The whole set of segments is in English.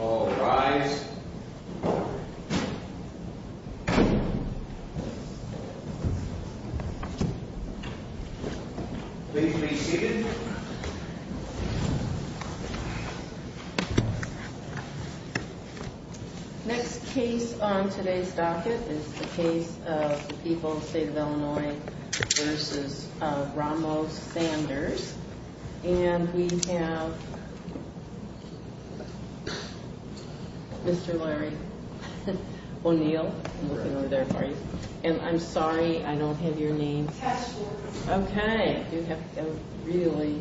All rise. Please be seated. Next case on today's docket is the case of the people of the state of Illinois v. Ramos-Sanders. And we have Mr. Larry O'Neill. I'm looking over there for you. And I'm sorry I don't have your name. Counselor. Okay. You have a really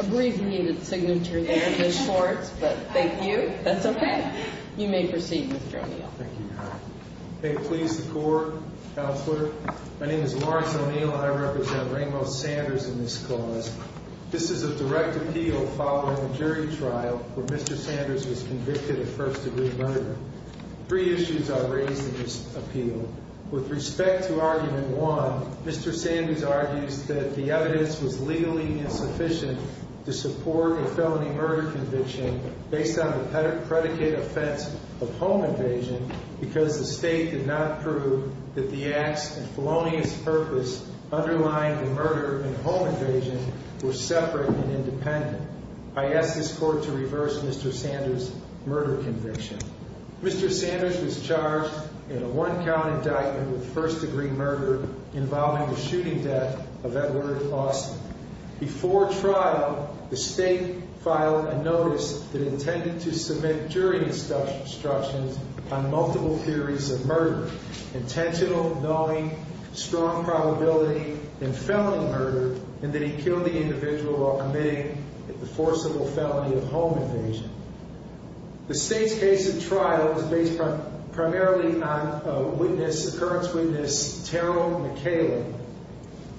abbreviated signature there in the shorts, but thank you. That's okay. You may proceed, Mr. O'Neill. Thank you, Your Honor. May it please the Court, Counselor. My name is Lawrence O'Neill, and I represent Ramos-Sanders in this cause. This is a direct appeal following a jury trial where Mr. Sanders was convicted of first-degree murder. Three issues are raised in this appeal. With respect to argument one, Mr. Sanders argues that the evidence was legally insufficient to support a felony murder conviction based on the predicate offense of home invasion because the state did not prove that the acts and felonious purpose underlying the murder and home invasion were separate and independent. I ask this Court to reverse Mr. Sanders' murder conviction. Mr. Sanders was charged in a one-count indictment with first-degree murder involving the shooting death of Edward Austin. Before trial, the state filed a notice that intended to submit jury instructions on multiple theories of murder, intentional, knowing, strong probability, and felony murder, and that he killed the individual while committing the forcible felony of home invasion. The state's case at trial is based primarily on a witness, occurrence witness, Terrell McCaleb,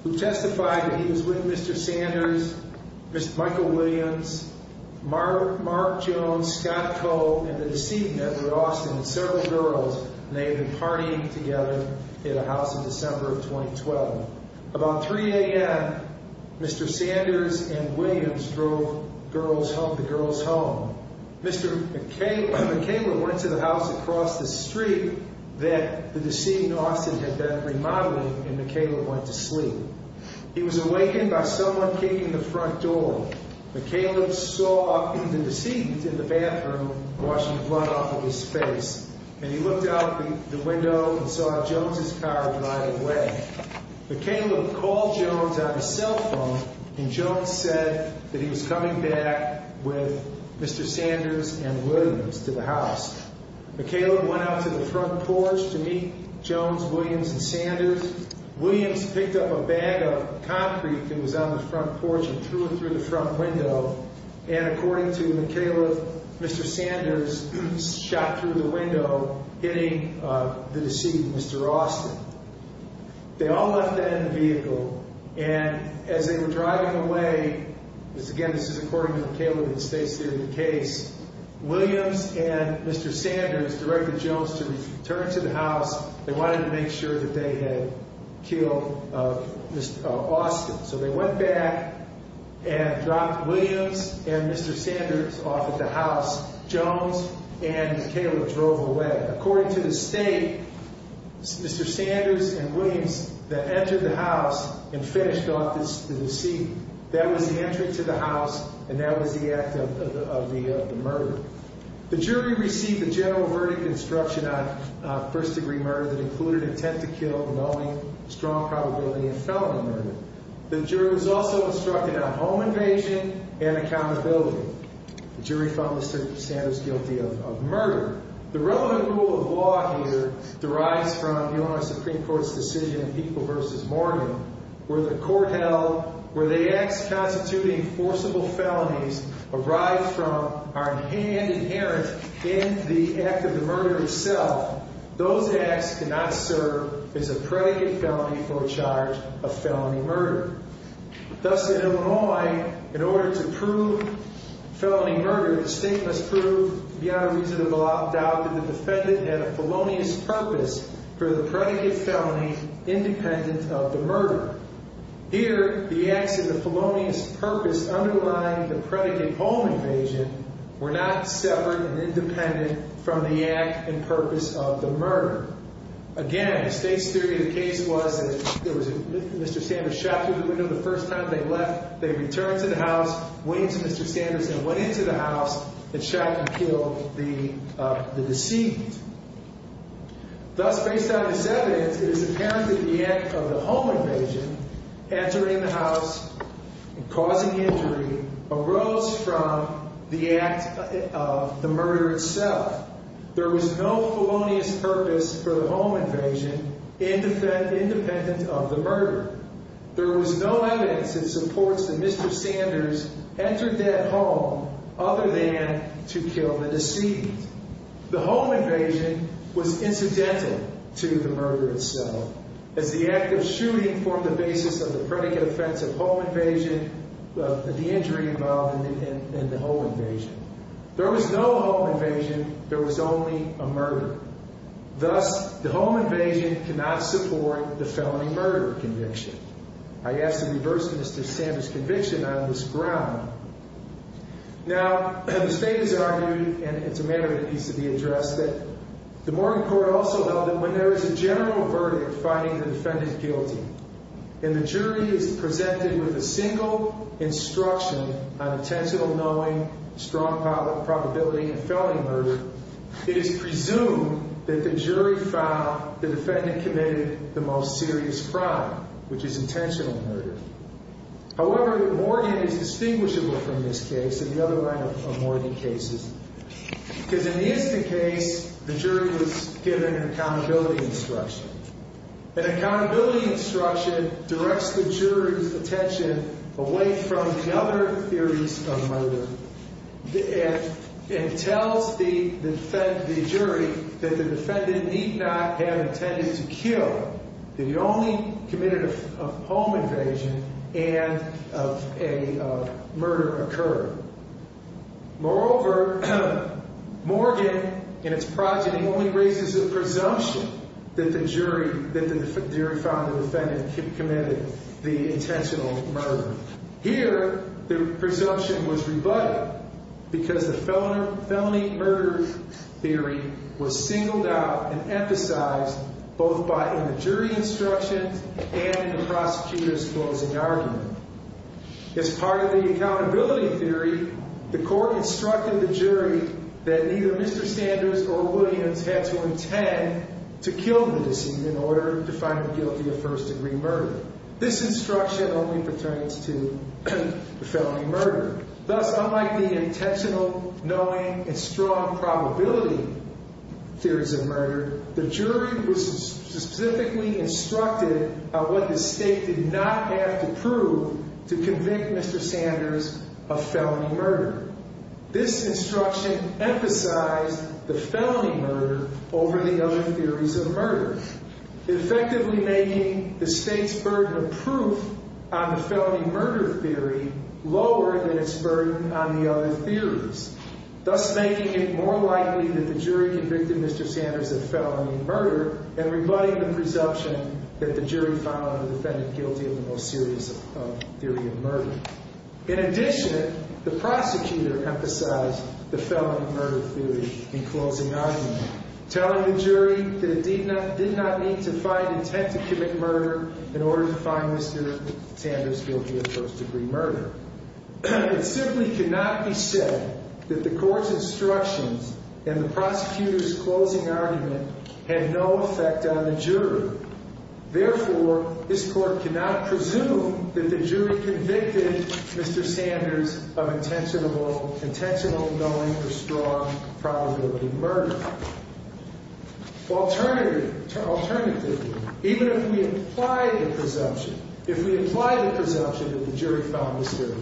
who testified that he was with Mr. Sanders, Mr. Michael Williams, Mark Jones, Scott Cole, and the decedent, Edward Austin, and several girls, and they had been partying together at a house in December of 2012. About 3 a.m., Mr. Sanders and Williams drove the girls home. Mr. McCaleb went to the house across the street that the decedent, Austin, had been remodeling, and McCaleb went to sleep. He was awakened by someone kicking the front door. McCaleb saw the decedent in the bathroom washing the blood off of his face, and he looked out the window and saw Jones's car drive away. McCaleb called Jones on his cell phone, and Jones said that he was coming back with Mr. Sanders and Williams to the house. McCaleb went out to the front porch to meet Jones, Williams, and Sanders. Williams picked up a bag of concrete that was on the front porch and threw it through the front window, and according to McCaleb, Mr. Sanders shot through the window, hitting the decedent, Mr. Austin. They all left that in the vehicle, and as they were driving away, again, this is according to McCaleb and the state's theory of the case, Williams and Mr. Sanders directed Jones to return to the house. They wanted to make sure that they had killed Mr. Austin, so they went back and dropped Williams and Mr. Sanders off at the house. Jones and McCaleb drove away. According to the state, Mr. Sanders and Williams then entered the house and finished off the decedent. That was the entry to the house, and that was the act of the murder. The jury received a general verdict instruction on first-degree murder that included intent to kill, knowing, strong probability, and felony murder. The jury was also instructed on home invasion and accountability. The jury found Mr. Sanders guilty of murder. The relevant rule of law here derives from the Illinois Supreme Court's decision in People v. Morgan, where the court held, where the acts constituting forcible felonies arise from are inherent in the act of the murder itself. Those acts cannot serve as a predicate felony for a charge of felony murder. Thus, in Illinois, in order to prove felony murder, the state must prove beyond a reasonable doubt that the defendant had a felonious purpose for the predicate felony independent of the murder. Here, the acts of the felonious purpose underlying the predicate home invasion were not severed and independent from the act and purpose of the murder. Again, the state's theory of the case was that Mr. Sanders shot through the window the first time they left. They returned to the house, went into Mr. Sanders, and went into the house and shot and killed the deceit. Thus, based on this evidence, it is apparent that the act of the home invasion, entering the house and causing injury, arose from the act of the murder itself. There was no felonious purpose for the home invasion independent of the murder. There was no evidence that supports that Mr. Sanders entered that home other than to kill the deceit. The home invasion was incidental to the murder itself, as the act of shooting formed the basis of the predicate offense of home invasion, the injury involved in the home invasion. There was no home invasion. There was only a murder. Thus, the home invasion cannot support the felony murder conviction. I ask that you reverse Mr. Sanders' conviction on this ground. Now, the state has argued, and it's a matter that needs to be addressed, that the Morgan Court also held that when there is a general verdict finding the defendant guilty, and the jury is presented with a single instruction on intentional knowing, strong probability, and felony murder, it is presumed that the jury found the defendant committed the most serious crime, which is intentional murder. However, Morgan is distinguishable from this case, and the other line of Morgan cases, because in the instant case, the jury was given an accountability instruction. An accountability instruction directs the jury's attention away from the other theories of murder, and tells the jury that the defendant need not have intended to kill. That he only committed a home invasion and a murder occurred. Moreover, Morgan, in its progeny, only raises a presumption that the jury found the defendant committed the intentional murder. Here, the presumption was rebutted, because the felony murder theory was singled out and emphasized both in the jury instructions and in the prosecutor's closing argument. As part of the accountability theory, the court instructed the jury that neither Mr. Sanders or Williams had to intend to kill the decedent in order to find him guilty of first degree murder. This instruction only pertains to the felony murder. Thus, unlike the intentional, knowing, and strong probability theories of murder, the jury was specifically instructed on what the state did not have to prove to convict Mr. Sanders of felony murder. This instruction emphasized the felony murder over the other theories of murder, effectively making the state's burden of proof on the felony murder theory lower than its burden on the other theories, thus making it more likely that the jury convicted Mr. Sanders of felony murder, and rebutting the presumption that the jury found the defendant guilty of the most serious theory of murder. In addition, the prosecutor emphasized the felony murder theory in closing argument, telling the jury that it did not need to find intent to commit murder in order to find Mr. Sanders guilty of first degree murder. It simply cannot be said that the court's instructions and the prosecutor's closing argument had no effect on the jury. Therefore, this court cannot presume that the jury convicted Mr. Sanders of intentional, knowing, or strong probability murder. Alternatively, even if we apply the presumption, if we apply the presumption that the jury found Mr.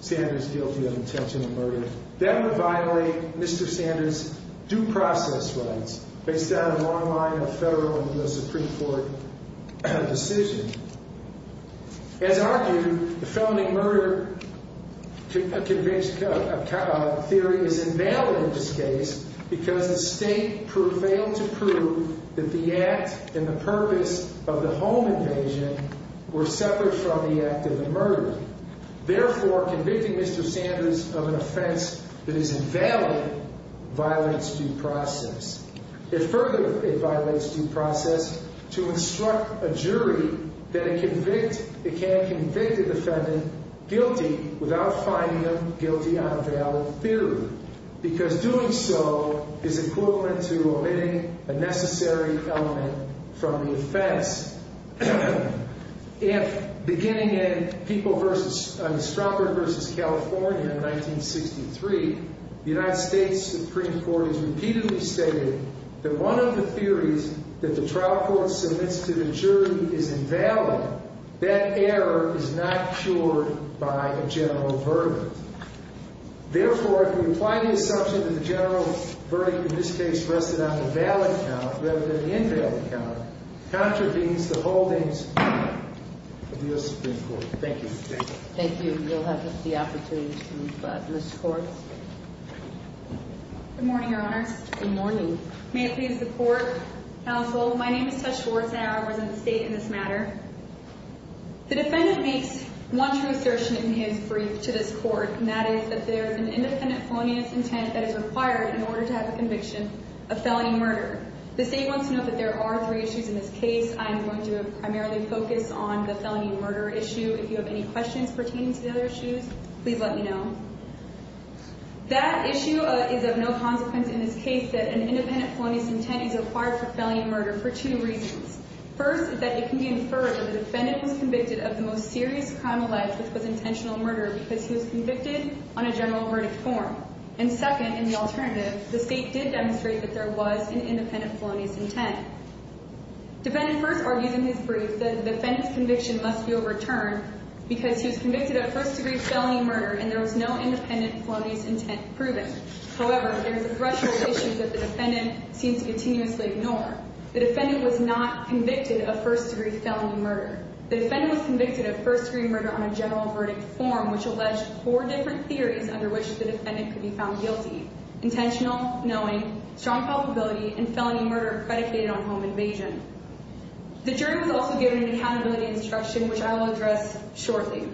Sanders guilty of intentional murder, that would violate Mr. Sanders' due process rights based on a long line of federal and U.S. Supreme Court decisions. As argued, the felony murder theory is invalid in this case because the state failed to prove that the act and the purpose of the home invasion were separate from the act of the murder. Therefore, convicting Mr. Sanders of an offense that is invalid violates due process. It further violates due process to instruct a jury that it can convict a defendant guilty without finding them guilty on a valid theory, because doing so is equivalent to omitting a necessary element from the offense. If, beginning in Stromberg v. California in 1963, the United States Supreme Court has repeatedly stated that one of the theories that the trial court submits to the jury is invalid, that error is not cured by a general verdict. Therefore, if we apply the assumption that the general verdict in this case rested on a valid count rather than an invalid count, it contravenes the holdings of the U.S. Supreme Court. Thank you. Thank you. Thank you. We'll have the opportunity to move to Ms. Schwartz. Good morning, Your Honors. Good morning. May it please the Court, Counsel, my name is Tess Schwartz and I am a resident of the state in this matter. The defendant makes one true assertion in his brief to this Court, and that is that there is an independent felonious intent that is required in order to have a conviction of felony murder. The state wants to note that there are three issues in this case. I am going to primarily focus on the felony murder issue. If you have any questions pertaining to the other issues, please let me know. That issue is of no consequence in this case that an independent felonious intent is required for felony murder for two reasons. First, that it can be inferred that the defendant was convicted of the most serious crime of life, which was intentional murder, because he was convicted on a general verdict form. And second, in the alternative, the state did demonstrate that there was an independent felonious intent. Defendant first argues in his brief that the defendant's conviction must be overturned because he was convicted of first-degree felony murder and there was no independent felonious intent proven. However, there is a threshold of issues that the defendant seems to continuously ignore. The defendant was not convicted of first-degree felony murder. The defendant was convicted of first-degree murder on a general verdict form, which alleged four different theories under which the defendant could be found guilty. Intentional, knowing, strong probability, and felony murder predicated on home invasion. The jury was also given an accountability instruction, which I will address shortly.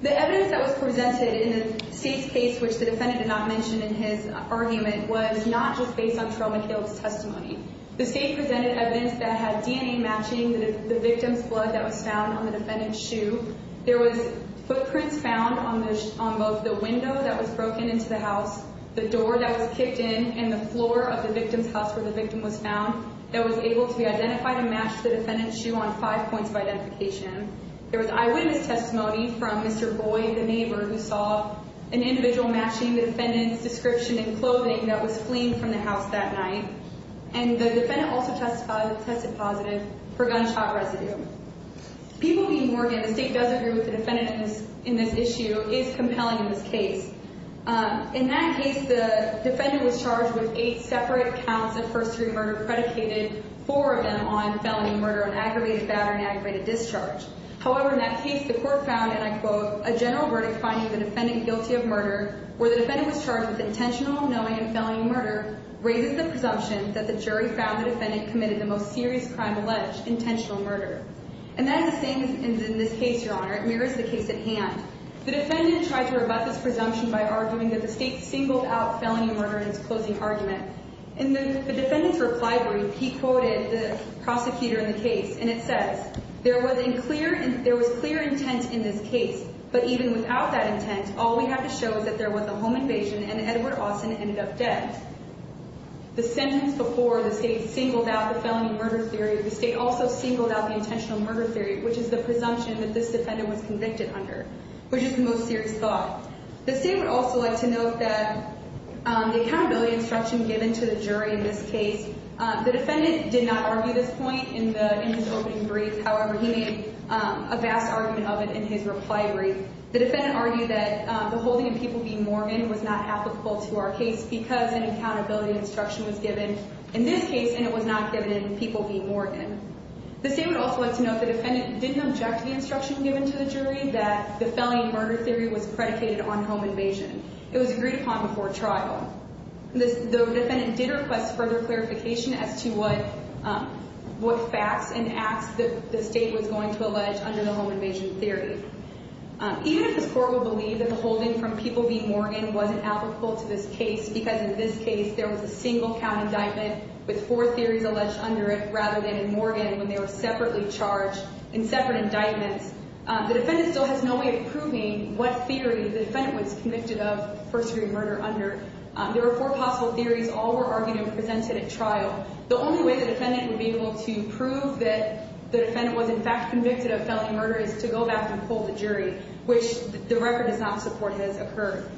The evidence that was presented in the state's case, which the defendant did not mention in his argument, was not just based on Trill McHale's testimony. The state presented evidence that had DNA matching the victim's blood that was found on the defendant's shoe. There was footprints found on both the window that was broken into the house, the door that was kicked in, and the floor of the victim's house where the victim was found that was able to be identified and matched to the defendant's shoe on five points of identification. There was eyewitness testimony from Mr. Boyd, the neighbor, who saw an individual matching the defendant's description in clothing that was fleeing from the house that night. And the defendant also tested positive for gunshot residue. People need to work it. The state does agree with the defendant in this issue. It is compelling in this case. In that case, the defendant was charged with eight separate counts of first-degree murder, predicated four of them on felony murder on aggravated battery and aggravated discharge. However, in that case, the court found, and I quote, a general verdict finding the defendant guilty of murder, where the defendant was charged with intentional, unknowing, and felony murder, raises the presumption that the jury found the defendant committed the most serious crime alleged, intentional murder. And that is the same in this case, Your Honor. It mirrors the case at hand. The defendant tried to rebut this presumption by arguing that the state singled out felony murder in its closing argument. In the defendant's reply brief, he quoted the prosecutor in the case, and it says, there was clear intent in this case, but even without that intent, all we have to show is that there was a home invasion and Edward Austin ended up dead. The sentence before the state singled out the felony murder theory, the state also singled out the intentional murder theory, which is the presumption that this defendant was convicted under, which is the most serious thought. The state would also like to note that the accountability instruction given to the jury in this case, the defendant did not argue this point in his opening brief. However, he made a vast argument of it in his reply brief. The defendant argued that the holding of people being Morgan was not applicable to our case because an accountability instruction was given in this case, and it was not given in people being Morgan. The state would also like to note the defendant didn't object to the instruction given to the jury that the felony murder theory was predicated on home invasion. It was agreed upon before trial. The defendant did request further clarification as to what facts and acts the state was going to allege under the home invasion theory. Even if this court will believe that the holding from people being Morgan wasn't applicable to this case because in this case there was a single count indictment with four theories alleged under it rather than in Morgan when they were separately charged in separate indictments, the defendant still has no way of proving what theory the defendant was convicted of first degree murder under. There were four possible theories all were argued and presented at trial. The only way the defendant would be able to prove that the defendant was in fact convicted of felony murder is to go back and pull the jury, which the record does not support has occurred.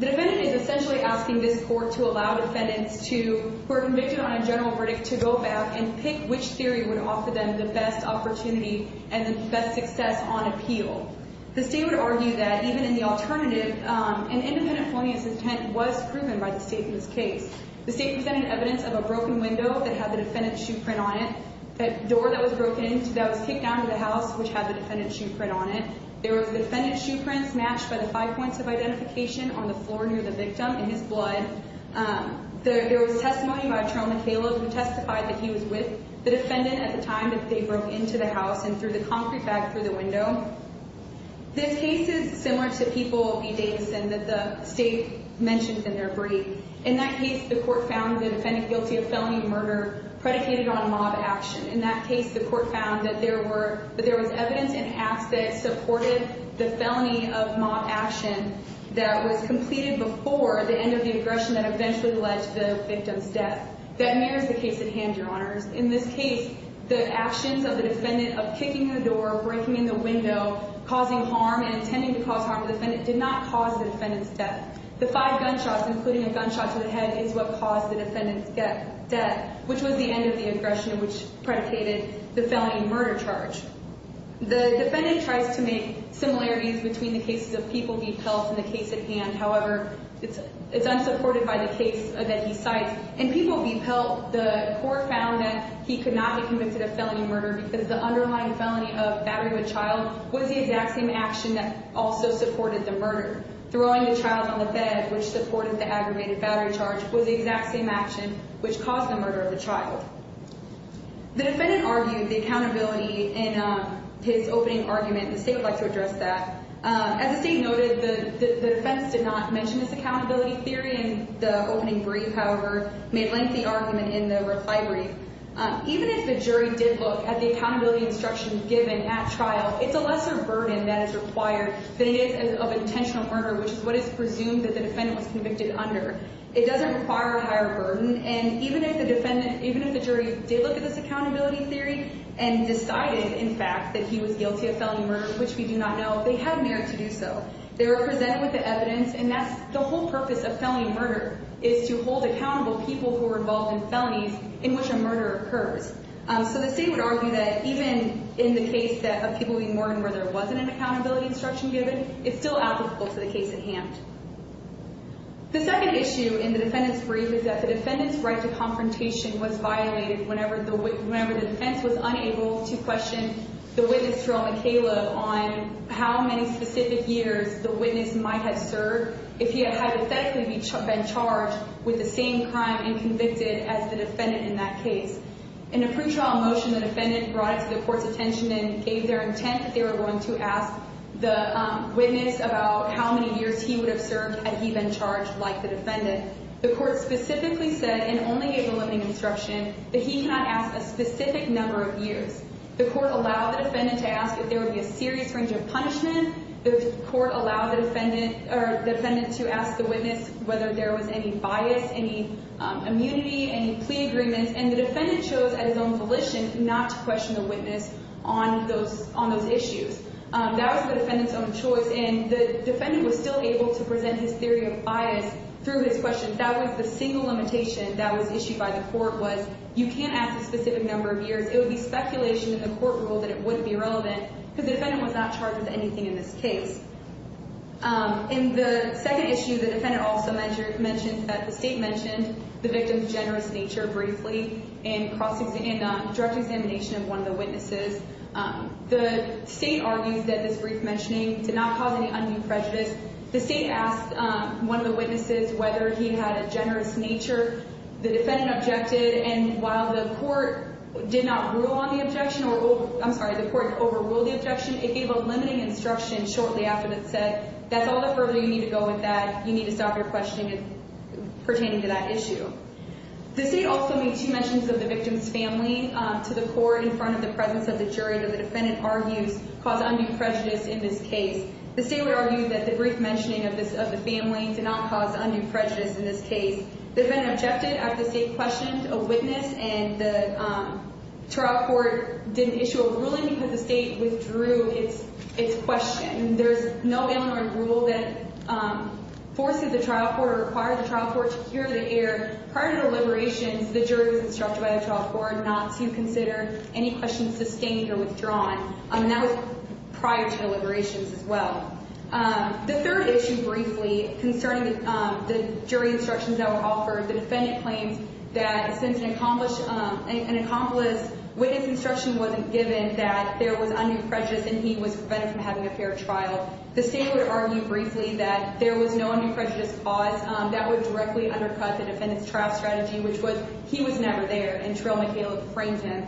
The defendant is essentially asking this court to allow defendants who are convicted on a general verdict to go back and pick which theory would offer them the best opportunity and the best success on appeal. The state would argue that even in the alternative, an independent felonious intent was proven by the state in this case. The state presented evidence of a broken window that had the defendant's shoe print on it, a door that was broken into that was kicked down to the house, which had the defendant's shoe print on it. There were the defendant's shoe prints matched by the five points of identification on the floor near the victim in his blood. There was testimony by Jerome McCaleb who testified that he was with the defendant at the time that they broke into the house and threw the concrete bag through the window. This case is similar to People v. Davidson that the state mentioned in their brief. In that case, the court found the defendant guilty of felony murder predicated on a mob action. In that case, the court found that there was evidence in acts that supported the felony of mob action that was completed before the end of the aggression that eventually led to the victim's death. That mirrors the case at hand, Your Honors. In this case, the actions of the defendant of kicking the door, breaking in the window, causing harm, and intending to cause harm to the defendant did not cause the defendant's death. The five gunshots, including a gunshot to the head, is what caused the defendant's death, which was the end of the aggression which predicated the felony murder charge. The defendant tries to make similarities between the cases of People v. Pelt and the case at hand. However, it's unsupported by the case that he cites. In People v. Pelt, the court found that he could not be convicted of felony murder because the underlying felony of battery of a child was the exact same action that also supported the murder. Throwing the child on the bed, which supported the aggravated battery charge, was the exact same action which caused the murder of the child. The defendant argued the accountability in his opening argument, and the state would like to address that. As the state noted, the defense did not mention this accountability theory in the opening brief. However, it made lengthy argument in the reply brief. Even if the jury did look at the accountability instructions given at trial, it's a lesser burden that is required than it is of intentional murder, which is what is presumed that the defendant was convicted under. It doesn't require a higher burden, and even if the jury did look at this accountability theory and decided, in fact, that he was guilty of felony murder, which we do not know, they had merit to do so. They were presented with the evidence, and that's the whole purpose of felony murder, is to hold accountable people who were involved in felonies in which a murder occurs. So the state would argue that even in the case of People v. Morgan, where there wasn't an accountability instruction given, it's still applicable to the case at hand. The second issue in the defendant's brief is that the defendant's right to confrontation was violated whenever the defense was unable to question the witness, Jerome and Caleb, on how many specific years the witness might have served if he had hypothetically been charged with the same crime and convicted as the defendant in that case. In a pretrial motion, the defendant brought it to the court's attention and gave their intent that they were going to ask the witness about how many years he would have served had he been charged like the defendant. The court specifically said, and only gave the limiting instruction, that he cannot ask a specific number of years. The court allowed the defendant to ask if there would be a serious range of punishment. The court allowed the defendant to ask the witness whether there was any bias, any immunity, any plea agreements, and the defendant chose at his own volition not to question the witness on those issues. That was the defendant's own choice, and the defendant was still able to present his theory of bias through his question. That was the single limitation that was issued by the court, was you can't ask a specific number of years. It would be speculation in the court rule that it wouldn't be relevant because the defendant was not charged with anything in this case. In the second issue, the defendant also mentioned that the state mentioned the victim's generous nature briefly in a direct examination of one of the witnesses. The state argues that this brief mentioning did not cause any undue prejudice. The state asked one of the witnesses whether he had a generous nature. The defendant objected, and while the court did not rule on the objection, I'm sorry, the court overruled the objection. It gave a limiting instruction shortly after it said, that's all the further you need to go with that. You need to stop your questioning pertaining to that issue. The state also made two mentions of the victim's family to the court in front of the presence of the jury, but the defendant argues caused undue prejudice in this case. The state would argue that the brief mentioning of the family did not cause undue prejudice in this case. The defendant objected after the state questioned a witness, and the trial court didn't issue a ruling because the state withdrew its question. There's no Illinois rule that forces the trial court or requires the trial court to hear the error. Prior to the liberations, the jury was instructed by the trial court not to consider any questions sustained or withdrawn, and that was prior to the liberations as well. The third issue briefly concerning the jury instructions that were offered, the defendant claims that since an accomplished witness instruction wasn't given that there was undue prejudice and he was prevented from having a fair trial, the state would argue briefly that there was no undue prejudice cause that would directly undercut the defendant's trial strategy, which was he was never there, and Trill McHale framed him.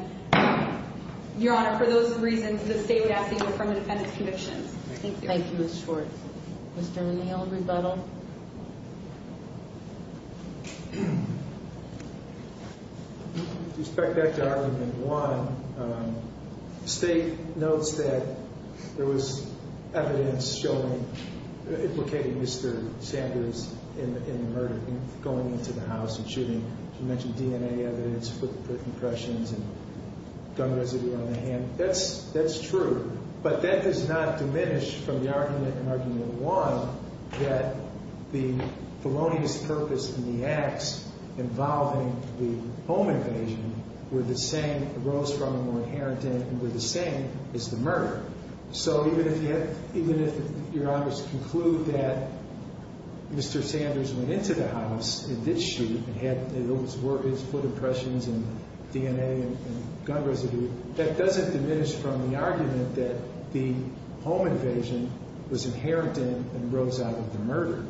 Your Honor, for those reasons, the state would ask that you affirm the defendant's convictions. Thank you. Thank you, Ms. Schwartz. Mr. McHale, rebuttal. With respect to argument one, the state notes that there was evidence implicating Mr. Sanders in the murder, going into the house and shooting. You mentioned DNA evidence, foot impressions, and gun residue on the hand. That's true, but that does not diminish from the argument in argument one that the felonious purpose in the acts involving the home invasion were the same, arose from and were inherent in it, and were the same as the murder. So even if Your Honor's conclude that Mr. Sanders went into the house and did shoot and had those foot impressions and DNA and gun residue, that doesn't diminish from the argument that the home invasion was inherent in it and arose out of the murder.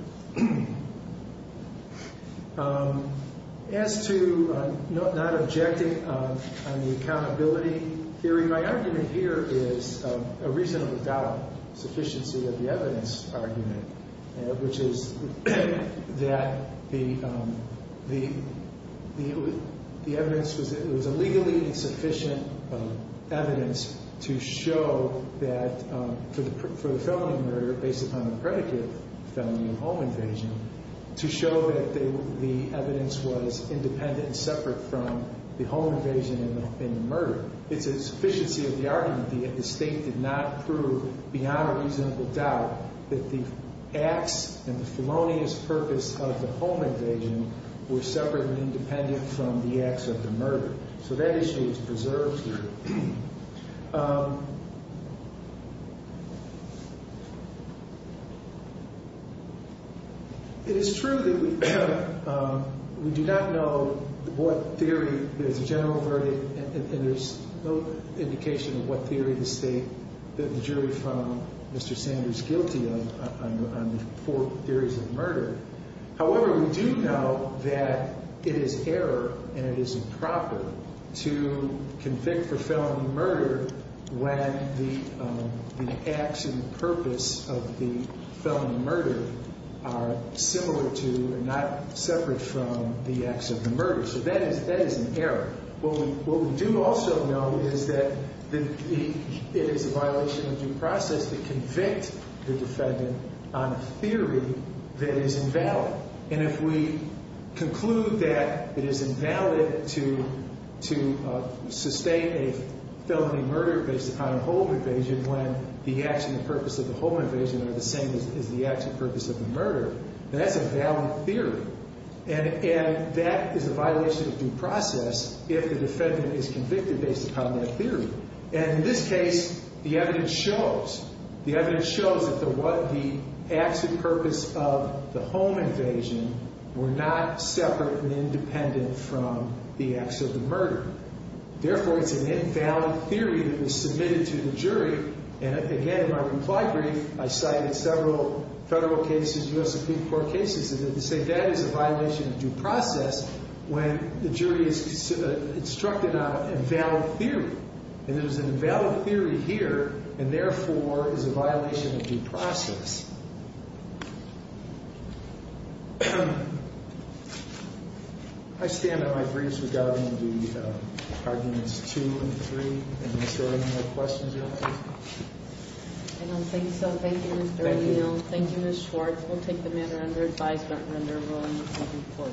As to not objecting on the accountability theory, my argument here is a reasonably valid sufficiency of the evidence argument, which is that the evidence was illegally insufficient evidence to show that, for the felony murder based upon the predicate felony of home invasion, to show that the evidence was independent and separate from the home invasion and the murder. It's a sufficiency of the argument that the state did not prove, beyond a reasonable doubt, that the acts and the felonious purpose of the home invasion were separate and independent from the acts of the murder. So that issue is preserved here. It is true that we do not know what theory, there's a general verdict, and there's no indication of what theory to state that the jury found Mr. Sanders guilty on the four theories of murder. However, we do know that it is error and it is improper to convict for felony murder when the acts and the purpose of the felony murder are similar to and not separate from the acts of the murder. So that is an error. What we do also know is that it is a violation of due process to convict the defendant on a theory that is invalid. And if we conclude that it is invalid to sustain a felony murder based upon a home invasion when the acts and the purpose of the home invasion are the same as the acts and purpose of the murder, that's a valid theory. And that is a violation of due process if the defendant is convicted based upon that theory. And in this case, the evidence shows, the evidence shows that the acts and purpose of the home invasion were not separate and independent from the acts of the murder. Therefore, it's an invalid theory that was submitted to the jury. And again, in my comply brief, I cited several federal cases, U.S. Supreme Court cases, that say that is a violation of due process when the jury is instructed on an invalid theory. And there's an invalid theory here, and therefore, is a violation of due process. I stand on my briefs regarding the arguments two and three. And is there any more questions or comments? I don't think so. Thank you, Mr. O'Neill. Thank you, Ms. Schwartz. We'll take the matter under advisement under rulings of the Supreme Court.